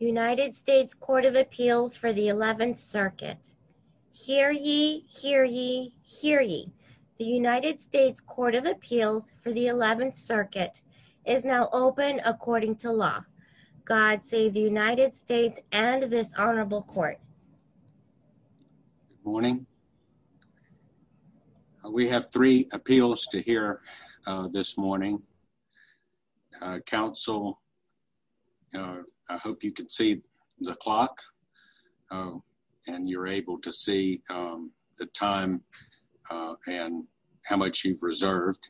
United States Court of Appeals for the 11th Circuit. Hear ye, hear ye, hear ye. The United States Court of Appeals for the 11th Circuit is now open according to law. God save the United States and this Honorable Court. Good morning. We have three appeals to hear this morning. Counsel, I hope you can see the clock and you're able to see the time and how much you've reserved.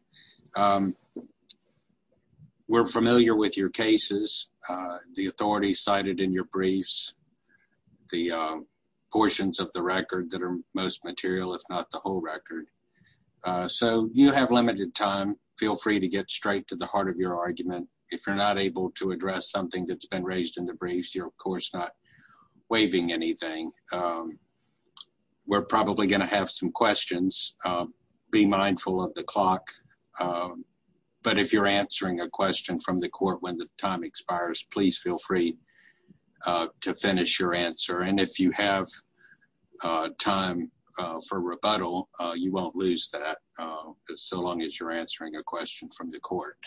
We're familiar with your cases, the authorities cited in your briefs, the portions of the record that are most material, if not the whole record, so you have limited time. Feel free to get straight to the heart of your argument. If you're not able to address something that's been raised in the briefs, you're of course not waiving anything. We're probably going to have some questions. Be mindful of the clock, but if you're answering a question from the court when the time expires, please feel free to finish your answer. And if you have time for rebuttal, you won't lose that so long as you're answering a question from the court.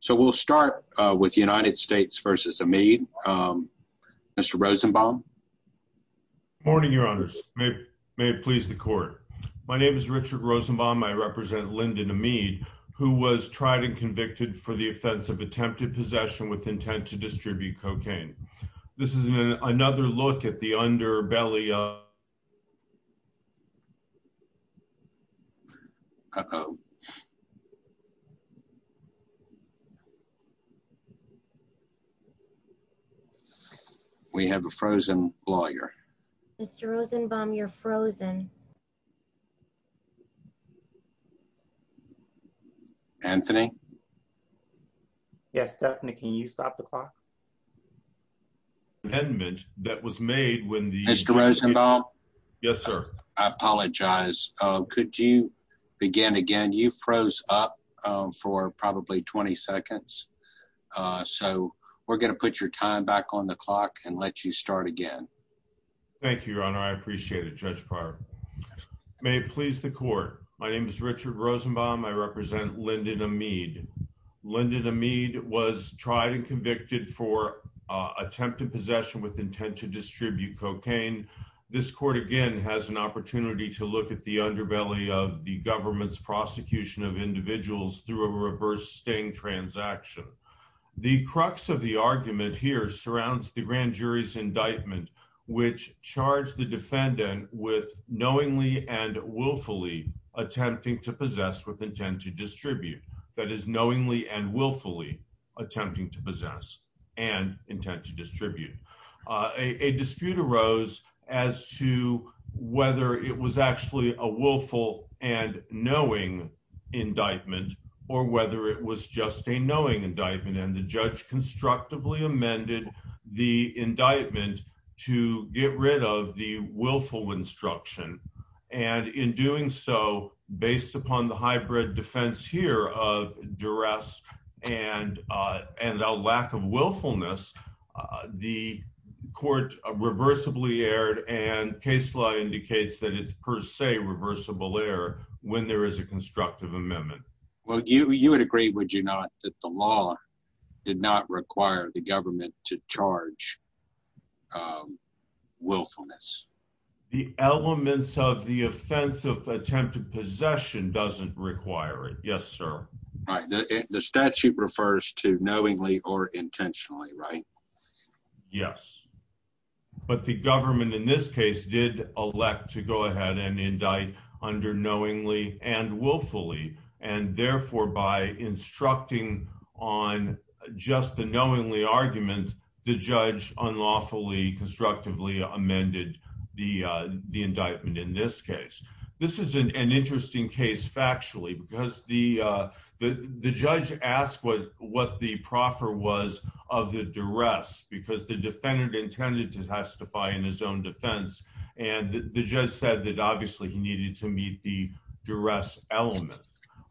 So we'll start with the United States v. Amede. Mr. Rosenbaum. Good morning, Your Honors. May it please the court. My name is Richard Rosenbaum. I represent Lindon Amede, who was tried and convicted for the offense of attempted possession with intent to distribute cocaine. This is another look at the underbelly of... Uh-oh. We have a frozen lawyer. Mr. Rosenbaum, you're frozen. Anthony? Yes, Stephanie, can you stop the clock? Amendment that was made when the... Mr. Rosenbaum? Yes, sir. I froze up for probably 20 seconds. So we're going to put your time back on the clock and let you start again. Thank you, Your Honor. I appreciate it, Judge Pryor. May it please the court. My name is Richard Rosenbaum. I represent Lindon Amede. Lindon Amede was tried and convicted for attempted possession with intent to distribute cocaine. This court, again, has an opportunity to look at the underbelly of the government's prosecution of individuals through a reverse sting transaction. The crux of the argument here surrounds the grand jury's indictment, which charged the defendant with knowingly and willfully attempting to possess with intent to distribute. That is, knowingly and willfully attempting to possess and intent to distribute. A dispute arose as to whether it was actually a willful and knowing indictment or whether it was just a knowing indictment. And the judge constructively amended the indictment to get rid of the willful instruction. And in doing so, based upon the hybrid defense here of duress and a lack of willfulness, the court reversibly erred and case law indicates that it's per se reversible error when there is a constructive amendment. Well, you would agree, would you not, that the law did not require the government to charge willfulness? The elements of the offense of attempted possession doesn't require it. Yes, sir. The statute refers to knowingly or and willfully. And therefore, by instructing on just the knowingly argument, the judge unlawfully, constructively amended the indictment in this case. This is an interesting case factually, because the judge asked what the proffer was of the duress, because the defendant intended to testify in his own defense. And the judge said that obviously he needed to meet the duress element.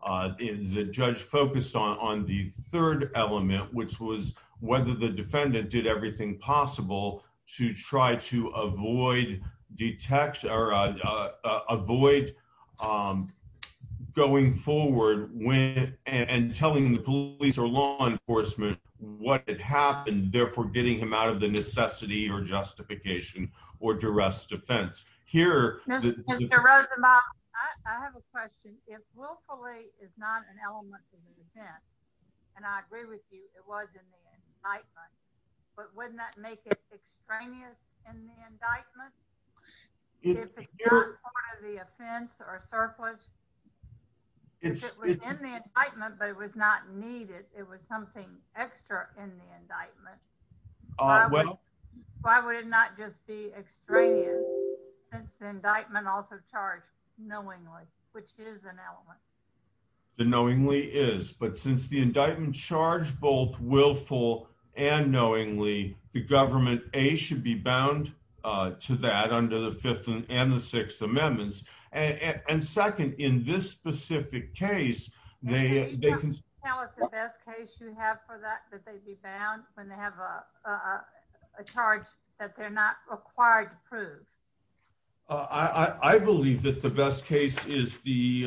The judge focused on the third element, which was whether the defendant did everything possible to try to avoid going forward and telling the police or law enforcement what had happened, therefore getting him out of the defense. Mr. Rosenbaum, I have a question. If willfully is not an element of the offense, and I agree with you it was in the indictment, but wouldn't that make it extraneous in the indictment? If it's not part of the offense or surplus? If it was in the indictment but it was not needed, it was something extra in the indictment also charged knowingly, which is an element. The knowingly is, but since the indictment charged both willful and knowingly, the government A should be bound to that under the Fifth and the Sixth Amendments. And second, in this specific case, they can tell us the best case you have for that, when they have a charge that they're not required to prove. I believe that the best case is the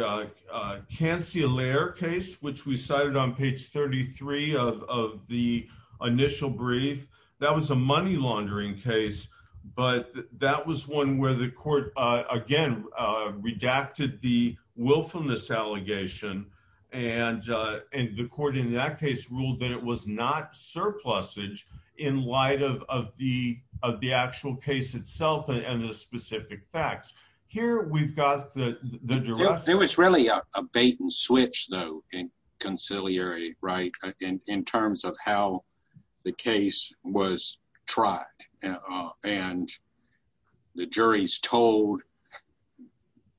Canciller case, which we cited on page 33 of the initial brief. That was a money laundering case, but that was one where the court, again, redacted the willfulness allegation. And the court in that case ruled that it was not surplusage in light of the actual case itself and the specific facts. Here we've got the direction. There was really a bait and switch, though, in conciliary, right, in terms of how the case was tried. And the jury's told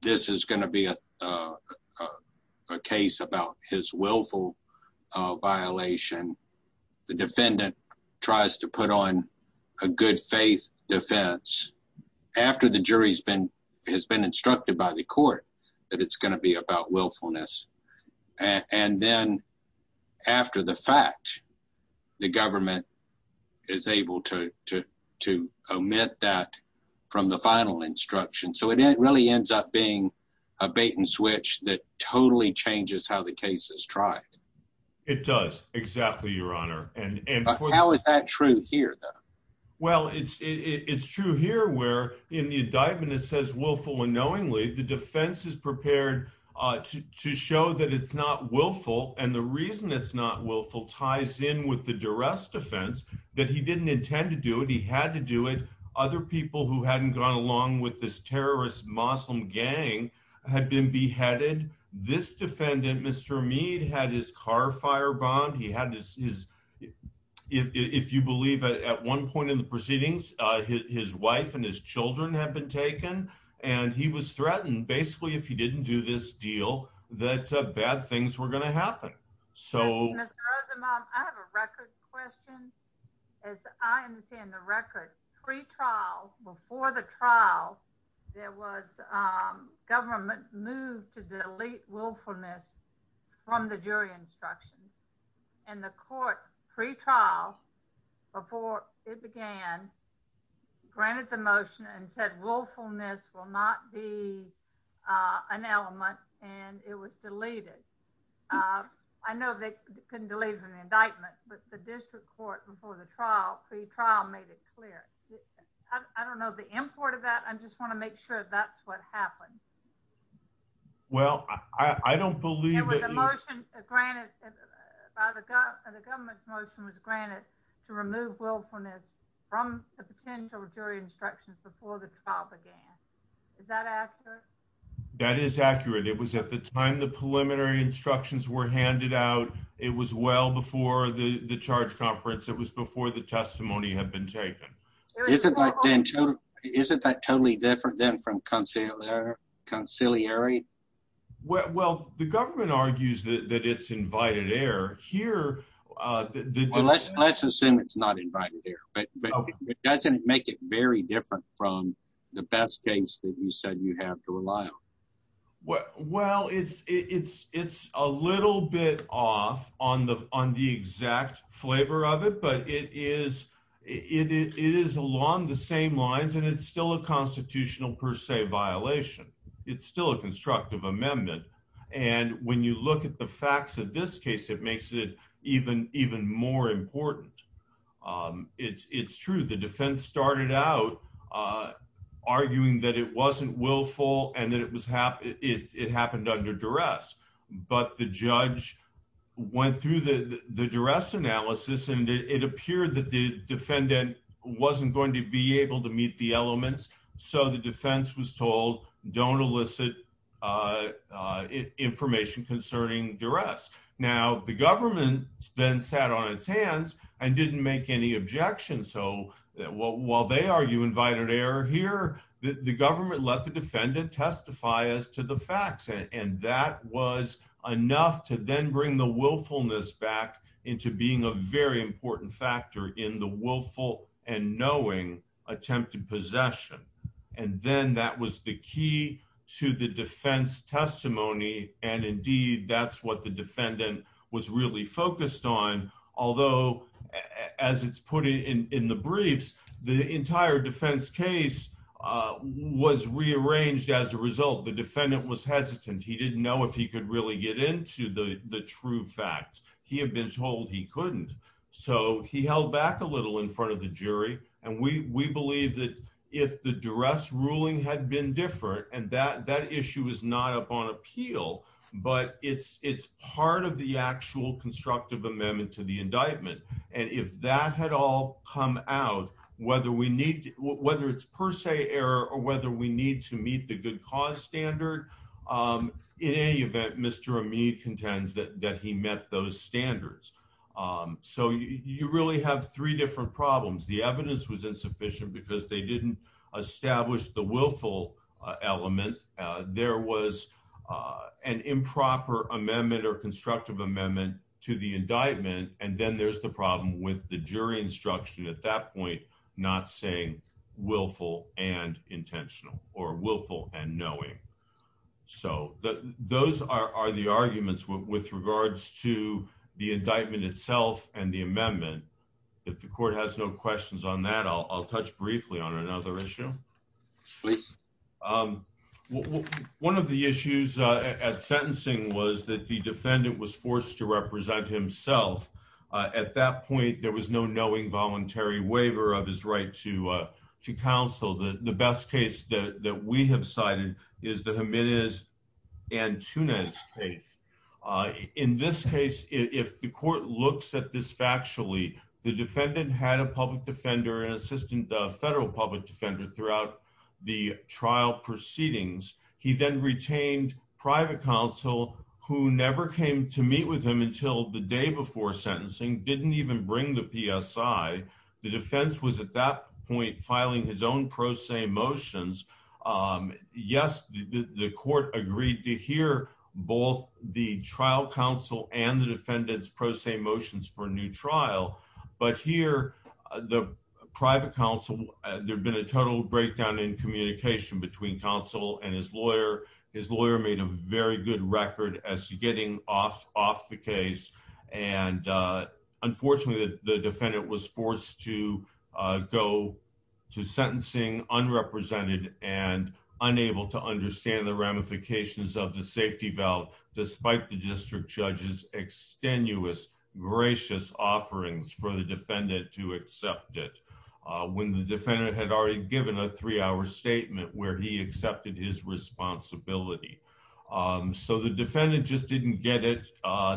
this is going to be a case about his willful violation. The defendant tries to put on a good faith defense after the jury has been instructed by the court that it's going to be about willfulness. And then after the fact, the government is able to omit that from the final instruction. So it really ends up being a bait and switch that totally changes how the case is tried. It does, exactly, Your Honor. How is that true here, though? Well, it's true here where in the indictment, it says willful unknowingly. The defense is prepared to show that it's not willful. And the reason it's not willful ties in with the duress defense, that he didn't intend to do it. He had to do it. Other people who hadn't gone along with this terrorist Muslim gang had been beheaded. This defendant, Mr. Meade, had his car firebombed. He had his, if you believe at one point in the proceedings, his wife and his children had been taken. And he was threatened, basically, if he didn't do this deal, that bad things were going to happen. Mr. Rosenbaum, I have a record question. As I understand the record, pre-trial, before the trial, there was government move to delete willfulness from the jury instructions. And the court, pre-trial, before it began, granted the motion and said willfulness will not be an element, and it was deleted. I know they couldn't delete it in the indictment, but the district court before the trial, pre-trial, made it clear. I don't know the import of that. I just want to make sure that's what happened. Well, I don't believe that- There was a motion granted, the government's motion was granted to remove willfulness from the potential jury instructions before the trial began. Is that accurate? That is accurate. It was at the time the preliminary instructions were handed out. It was well before the charge conference. It was before the testimony had been taken. Isn't that totally different than from conciliary? Well, the government argues that it's invited error. Here- Let's assume it's not invited error, but it doesn't make it very different from the best case that you said you have to rely on. Well, it's a little bit off on the exact flavor of it, but it is along the same lines, and it's still a constitutional per se violation. It's still a constructive amendment. When you look at the facts of this case, it makes it even more important. It's true, the defense started out arguing that it wasn't willful and that it happened under duress, but the judge went through the duress analysis, and it appeared that the defendant wasn't going to be able to meet the elements, so the defense was told, don't elicit information concerning duress. Now, the government then sat on its hands and didn't make any objections, so while they argue invited error here, the government let the defendant testify as to the facts, and that was enough to then bring the willfulness back into being a very important factor in the willful and knowing attempted possession, and then that was the key to the defense testimony, and indeed, that's what the defendant was really focused on, although as it's put in the briefs, the entire defense case was rearranged as a result. The defendant was hesitant. He didn't know if he could really get into the true facts. He had been told he couldn't, so he held back a little in front of the jury, and we believe that if the duress ruling had been different and that but it's part of the actual constructive amendment to the indictment, and if that had all come out, whether it's per se error or whether we need to meet the good cause standard, in any event, Mr. Ameed contends that he met those standards, so you really have three different problems. The evidence was insufficient because they didn't establish the willful element. There was an improper amendment or constructive amendment to the indictment, and then there's the problem with the jury instruction at that point not saying willful and intentional or willful and knowing, so those are the arguments with regards to the indictment itself and the amendment. If the court has no questions on that, I'll touch briefly on another issue. Please. One of the issues at sentencing was that the defendant was forced to represent himself. At that point, there was no knowing voluntary waiver of his right to counsel. The best case that we have cited is the Jimenez and Tunis case. In this case, if the court looks at this factually, the defendant had a public defender, an assistant federal public defender throughout the trial proceedings. He then retained private counsel who never came to meet with him until the day before sentencing, didn't even bring the PSI. The defense was at that point filing his own pro se motions. Yes, the court agreed to hear both the trial counsel and the defendant's motions for a new trial, but here, the private counsel, there had been a total breakdown in communication between counsel and his lawyer. His lawyer made a very good record as to getting off the case, and unfortunately, the defendant was forced to go to sentencing unrepresented and unable to understand the ramifications of the safety valve despite the district judge's strenuous, gracious offerings for the defendant to accept it when the defendant had already given a three-hour statement where he accepted his responsibility. So the defendant just didn't get it.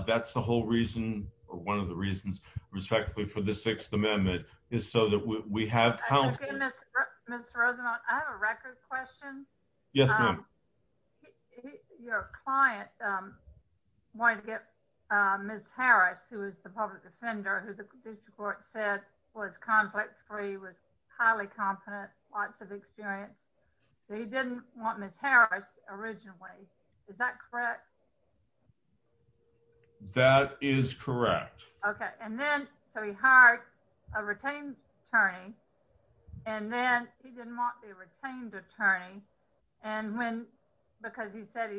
That's the whole reason, or one of the reasons, respectfully, for the Sixth Amendment is so that we have counsel. Okay, Mr. Rosenblatt, I have a record question. Yes, ma'am. Your client wanted to get Ms. Harris, who is the public defender, who the district court said was conflict-free, was highly competent, lots of experience, so he didn't want Ms. Harris originally. Is that correct? That is correct. Okay, and then, so he hired a retained attorney, and then he didn't want the retained attorney, and when, because he said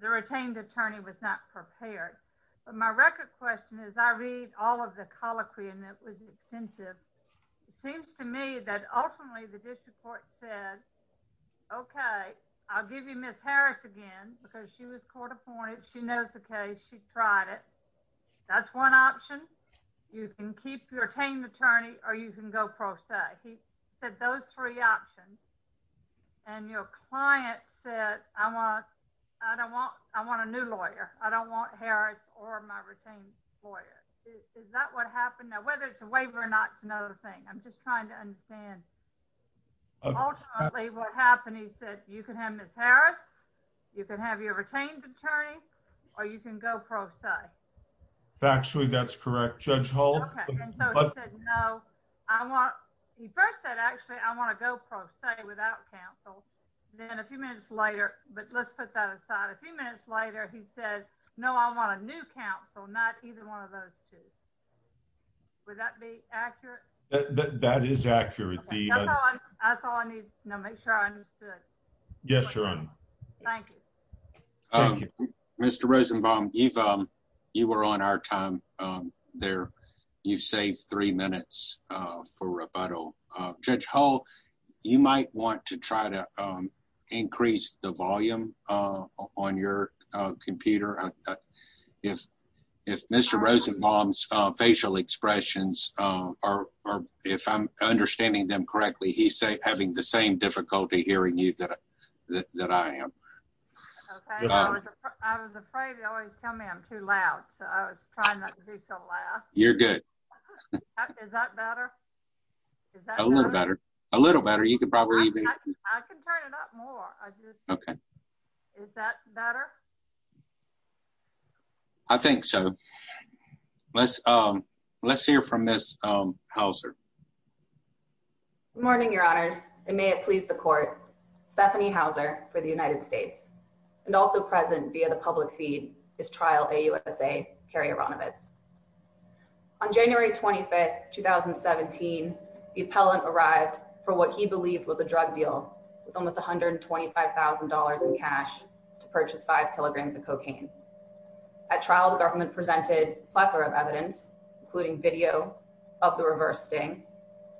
the retained attorney was not prepared. But my record question is, I read all of the colloquy, and it was extensive. It seems to me that ultimately, the district court said, okay, I'll give you Ms. Harris again, because she was court-appointed. She knows the case. She tried it. That's one option. You can retain the attorney, or you can go pro se. He said those three options, and your client said, I want a new lawyer. I don't want Harris or my retained lawyer. Is that what happened? Now, whether it's a waiver or not is another thing. I'm just trying to understand. Ultimately, what happened is that you can have Ms. Harris, you can have your retained attorney, or you can go pro se. Factually, that's correct, Judge Hall. Okay, and so he said, no, I want, he first said, actually, I want to go pro se without counsel. Then a few minutes later, but let's put that aside. A few minutes later, he said, no, I want a new counsel, not either one of those two. Would that be accurate? That is accurate. That's all I need to know. Make sure I understood. Yes, Your Honor. Thank you. Mr. Rosenbaum, you were on our time there. You've saved three minutes for rebuttal. Judge Hall, you might want to try to increase the volume on your computer. If Mr. Rosenbaum's facial expressions, or if I'm understanding them correctly, he's having the same difficulty hearing you that I am. Okay, I was afraid you always tell me I'm too loud, so I was trying not to be so loud. You're good. Is that better? A little better. A little better. I can turn it up more. Is that better? I think so. Let's hear from Ms. Houser. Good morning, Your Honors, and may it please the court, Stephanie Houser for the United States, and also present via the public feed, is Trial AUSA, Kerry Aronovitz. On January 25, 2017, the appellant arrived for what he believed was a drug deal with almost $125,000 in cash to purchase five kilograms of cocaine. At trial, the government presented a plethora of evidence, including video of the reverse sting.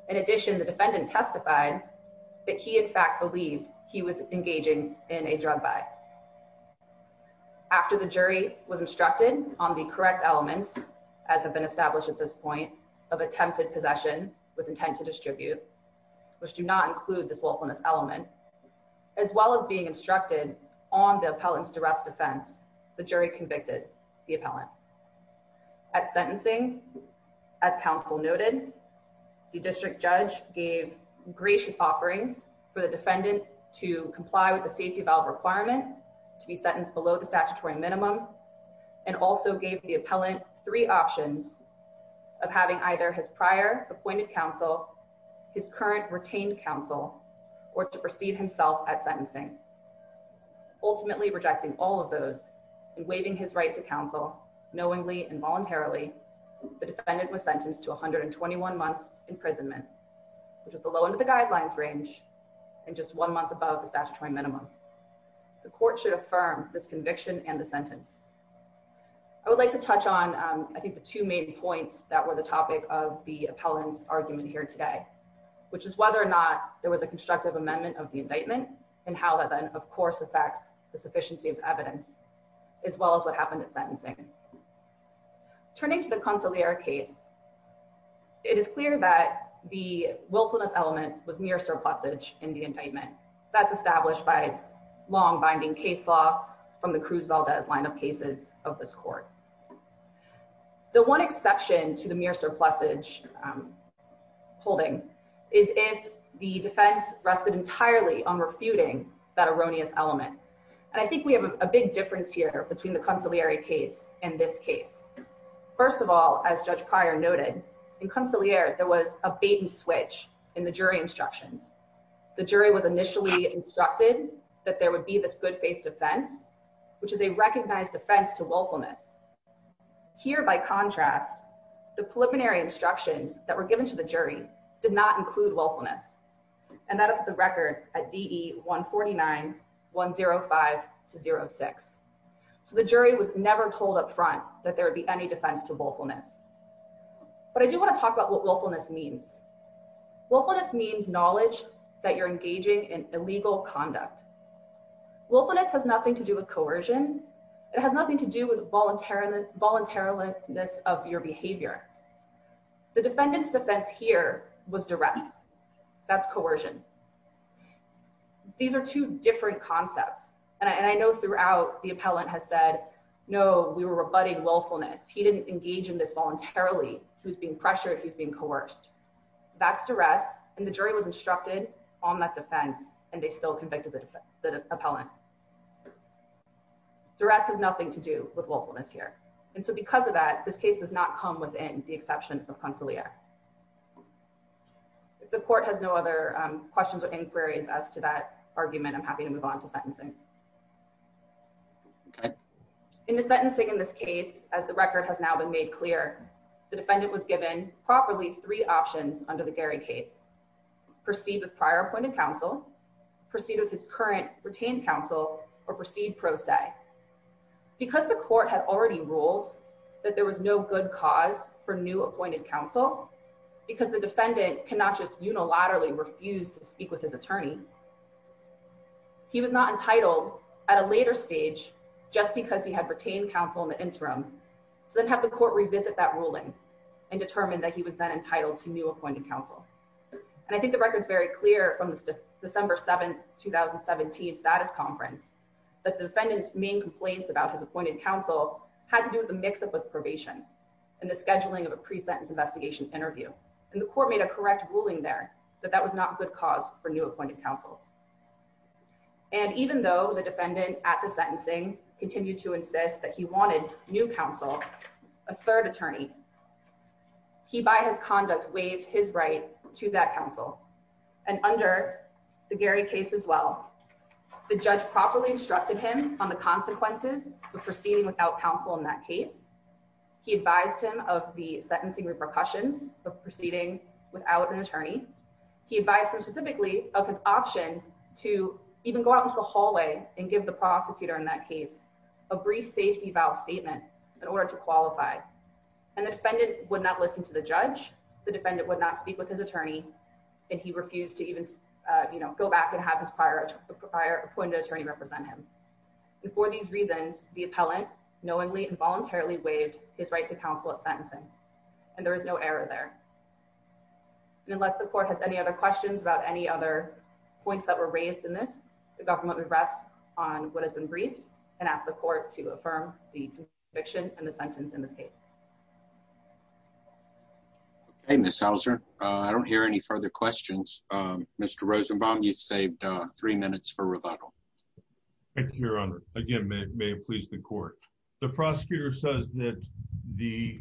In addition, the defendant testified that he, in fact, believed he was engaging in a drug buy. After the jury was instructed on the correct elements, as have been established at this point, of attempted possession with intent to distribute, which do not include this willfulness element, as well as being instructed on the appellant's duress defense, the jury convicted the appellant. At sentencing, as counsel noted, the district judge gave gracious offerings for the defendant to comply with the safety valve requirement to be sentenced below the statutory minimum, and also gave the appellant three options of having either his prior appointed counsel, his current retained counsel, or to proceed himself at sentencing. Ultimately rejecting all of those and waiving his right to counsel, knowingly and voluntarily, the defendant was sentenced to 121 months imprisonment, which is the low end of the guidelines range and just one month above the statutory minimum. The court should affirm this conviction and the sentence. I would like to touch on, I think, the two main points that were the topic of the appellant's argument here today, which is whether or not there was a constructive amendment of the indictment, and how that then, of course, affects the sufficiency of evidence, as well as what happened at sentencing. Turning to the consigliere case, it is clear that the willfulness element was mere surplusage in the indictment. That's established by long-binding case law from the Cruz Valdez lineup cases of this court. The one exception to the mere surplusage holding is if the defense rested entirely on refuting that erroneous element. And I think we have a big difference here between the consigliere case and this case. First of all, as Judge Pryor noted, in consigliere, there was a bait and switch in the jury instructions. The jury was initially instructed that there would be this good faith defense, which is a recognized defense to willfulness. Here, by contrast, the preliminary instructions that were given to the jury did not include willfulness. And that is the record at DE 149-105-06. So the jury was never told up front that there would be any defense to willfulness. But I do want to talk about what willfulness means. Willfulness means knowledge that you're engaging in illegal conduct. Willfulness has nothing to do with coercion. It has nothing to do with voluntariliness of your behavior. The defendant's defense here was duress. That's coercion. These are two different concepts. And I know throughout, the appellant has said, no, we were rebutting willfulness. He didn't engage in this voluntarily. He was being pressured. He was being coerced. That's duress. And the jury was instructed on that defense, and they still convicted the appellant. Duress has nothing to do with willfulness here. And so because of that, this case does not come within the exception of consigliere. If the court has no other questions or inquiries as to that argument, I'm happy to move on to sentencing. In the sentencing in this case, as the record has now been made clear, the defendant was given properly three options under the Gary case. Proceed with prior appointed counsel, proceed with his current retained counsel, or proceed pro se. Because the court had already ruled that there was no good cause for new appointed counsel, because the defendant cannot just unilaterally refuse to speak with his attorney, he was not entitled to at a later stage, just because he had retained counsel in the interim, to then have the court revisit that ruling and determine that he was then entitled to new appointed counsel. And I think the record's very clear from this December 7th, 2017 status conference, that the defendant's main complaints about his appointed counsel had to do with a mix-up with probation and the scheduling of a pre-sentence investigation interview. And the court made a defendant at the sentencing continued to insist that he wanted new counsel, a third attorney. He, by his conduct, waived his right to that counsel. And under the Gary case as well, the judge properly instructed him on the consequences of proceeding without counsel in that case. He advised him of the sentencing repercussions of proceeding without an attorney. He advised him specifically of his option to even go out into the hallway and give the prosecutor in that case a brief safety vow statement in order to qualify. And the defendant would not listen to the judge, the defendant would not speak with his attorney, and he refused to even, you know, go back and have his prior appointed attorney represent him. And for these reasons, the appellant knowingly and voluntarily waived his right to counsel at sentencing. And there was no error there. Unless the court has any other questions about any other points that were raised in this, the government would rest on what has been briefed and ask the court to affirm the conviction and the sentence in this case. Okay, Ms. Hauser, I don't hear any further questions. Mr. Rosenbaum, you've saved three minutes for rebuttal. Thank you, Your Honor. Again, may it please the court. The prosecutor says that the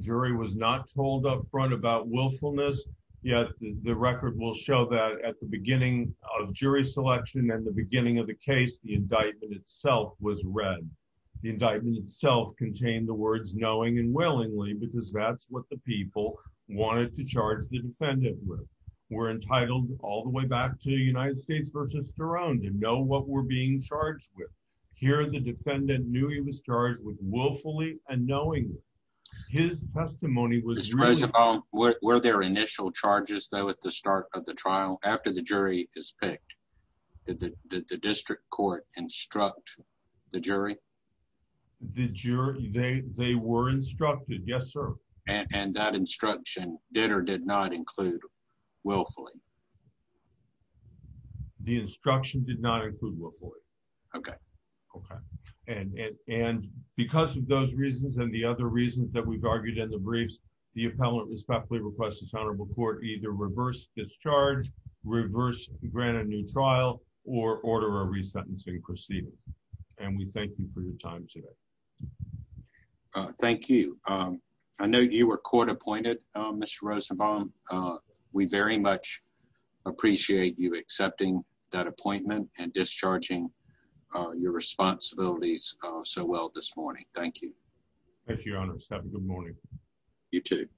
jury was not told up front about willfulness, yet the record will show that at the beginning of jury selection and the beginning of the case, the indictment itself was read. The indictment itself contained the words knowing and willingly because that's what the people wanted to charge the defendant with. We're entitled all the way back to the United States versus their own to know what we're being charged with. Here, the defendant knew he was charged with willfully and knowing his testimony was... Were there initial charges though at the start of the trial after the jury is picked? Did the district court instruct the jury? They were instructed, yes, sir. And that instruction did or did not include willfully. The instruction did not include willfully. Okay. Okay. And because of those reasons and the other reasons that we've argued in the briefs, the appellant respectfully requests this honorable court either reverse discharge, reverse grant a new trial or order a resentencing proceeding. And we thank you for your time today. Thank you. I know you were court-appointed Mr. Rosenbaum. We very much appreciate you accepting that appointment and discharging your responsibilities so well this morning. Thank you. Thank you, your honors. Have a good morning. You too.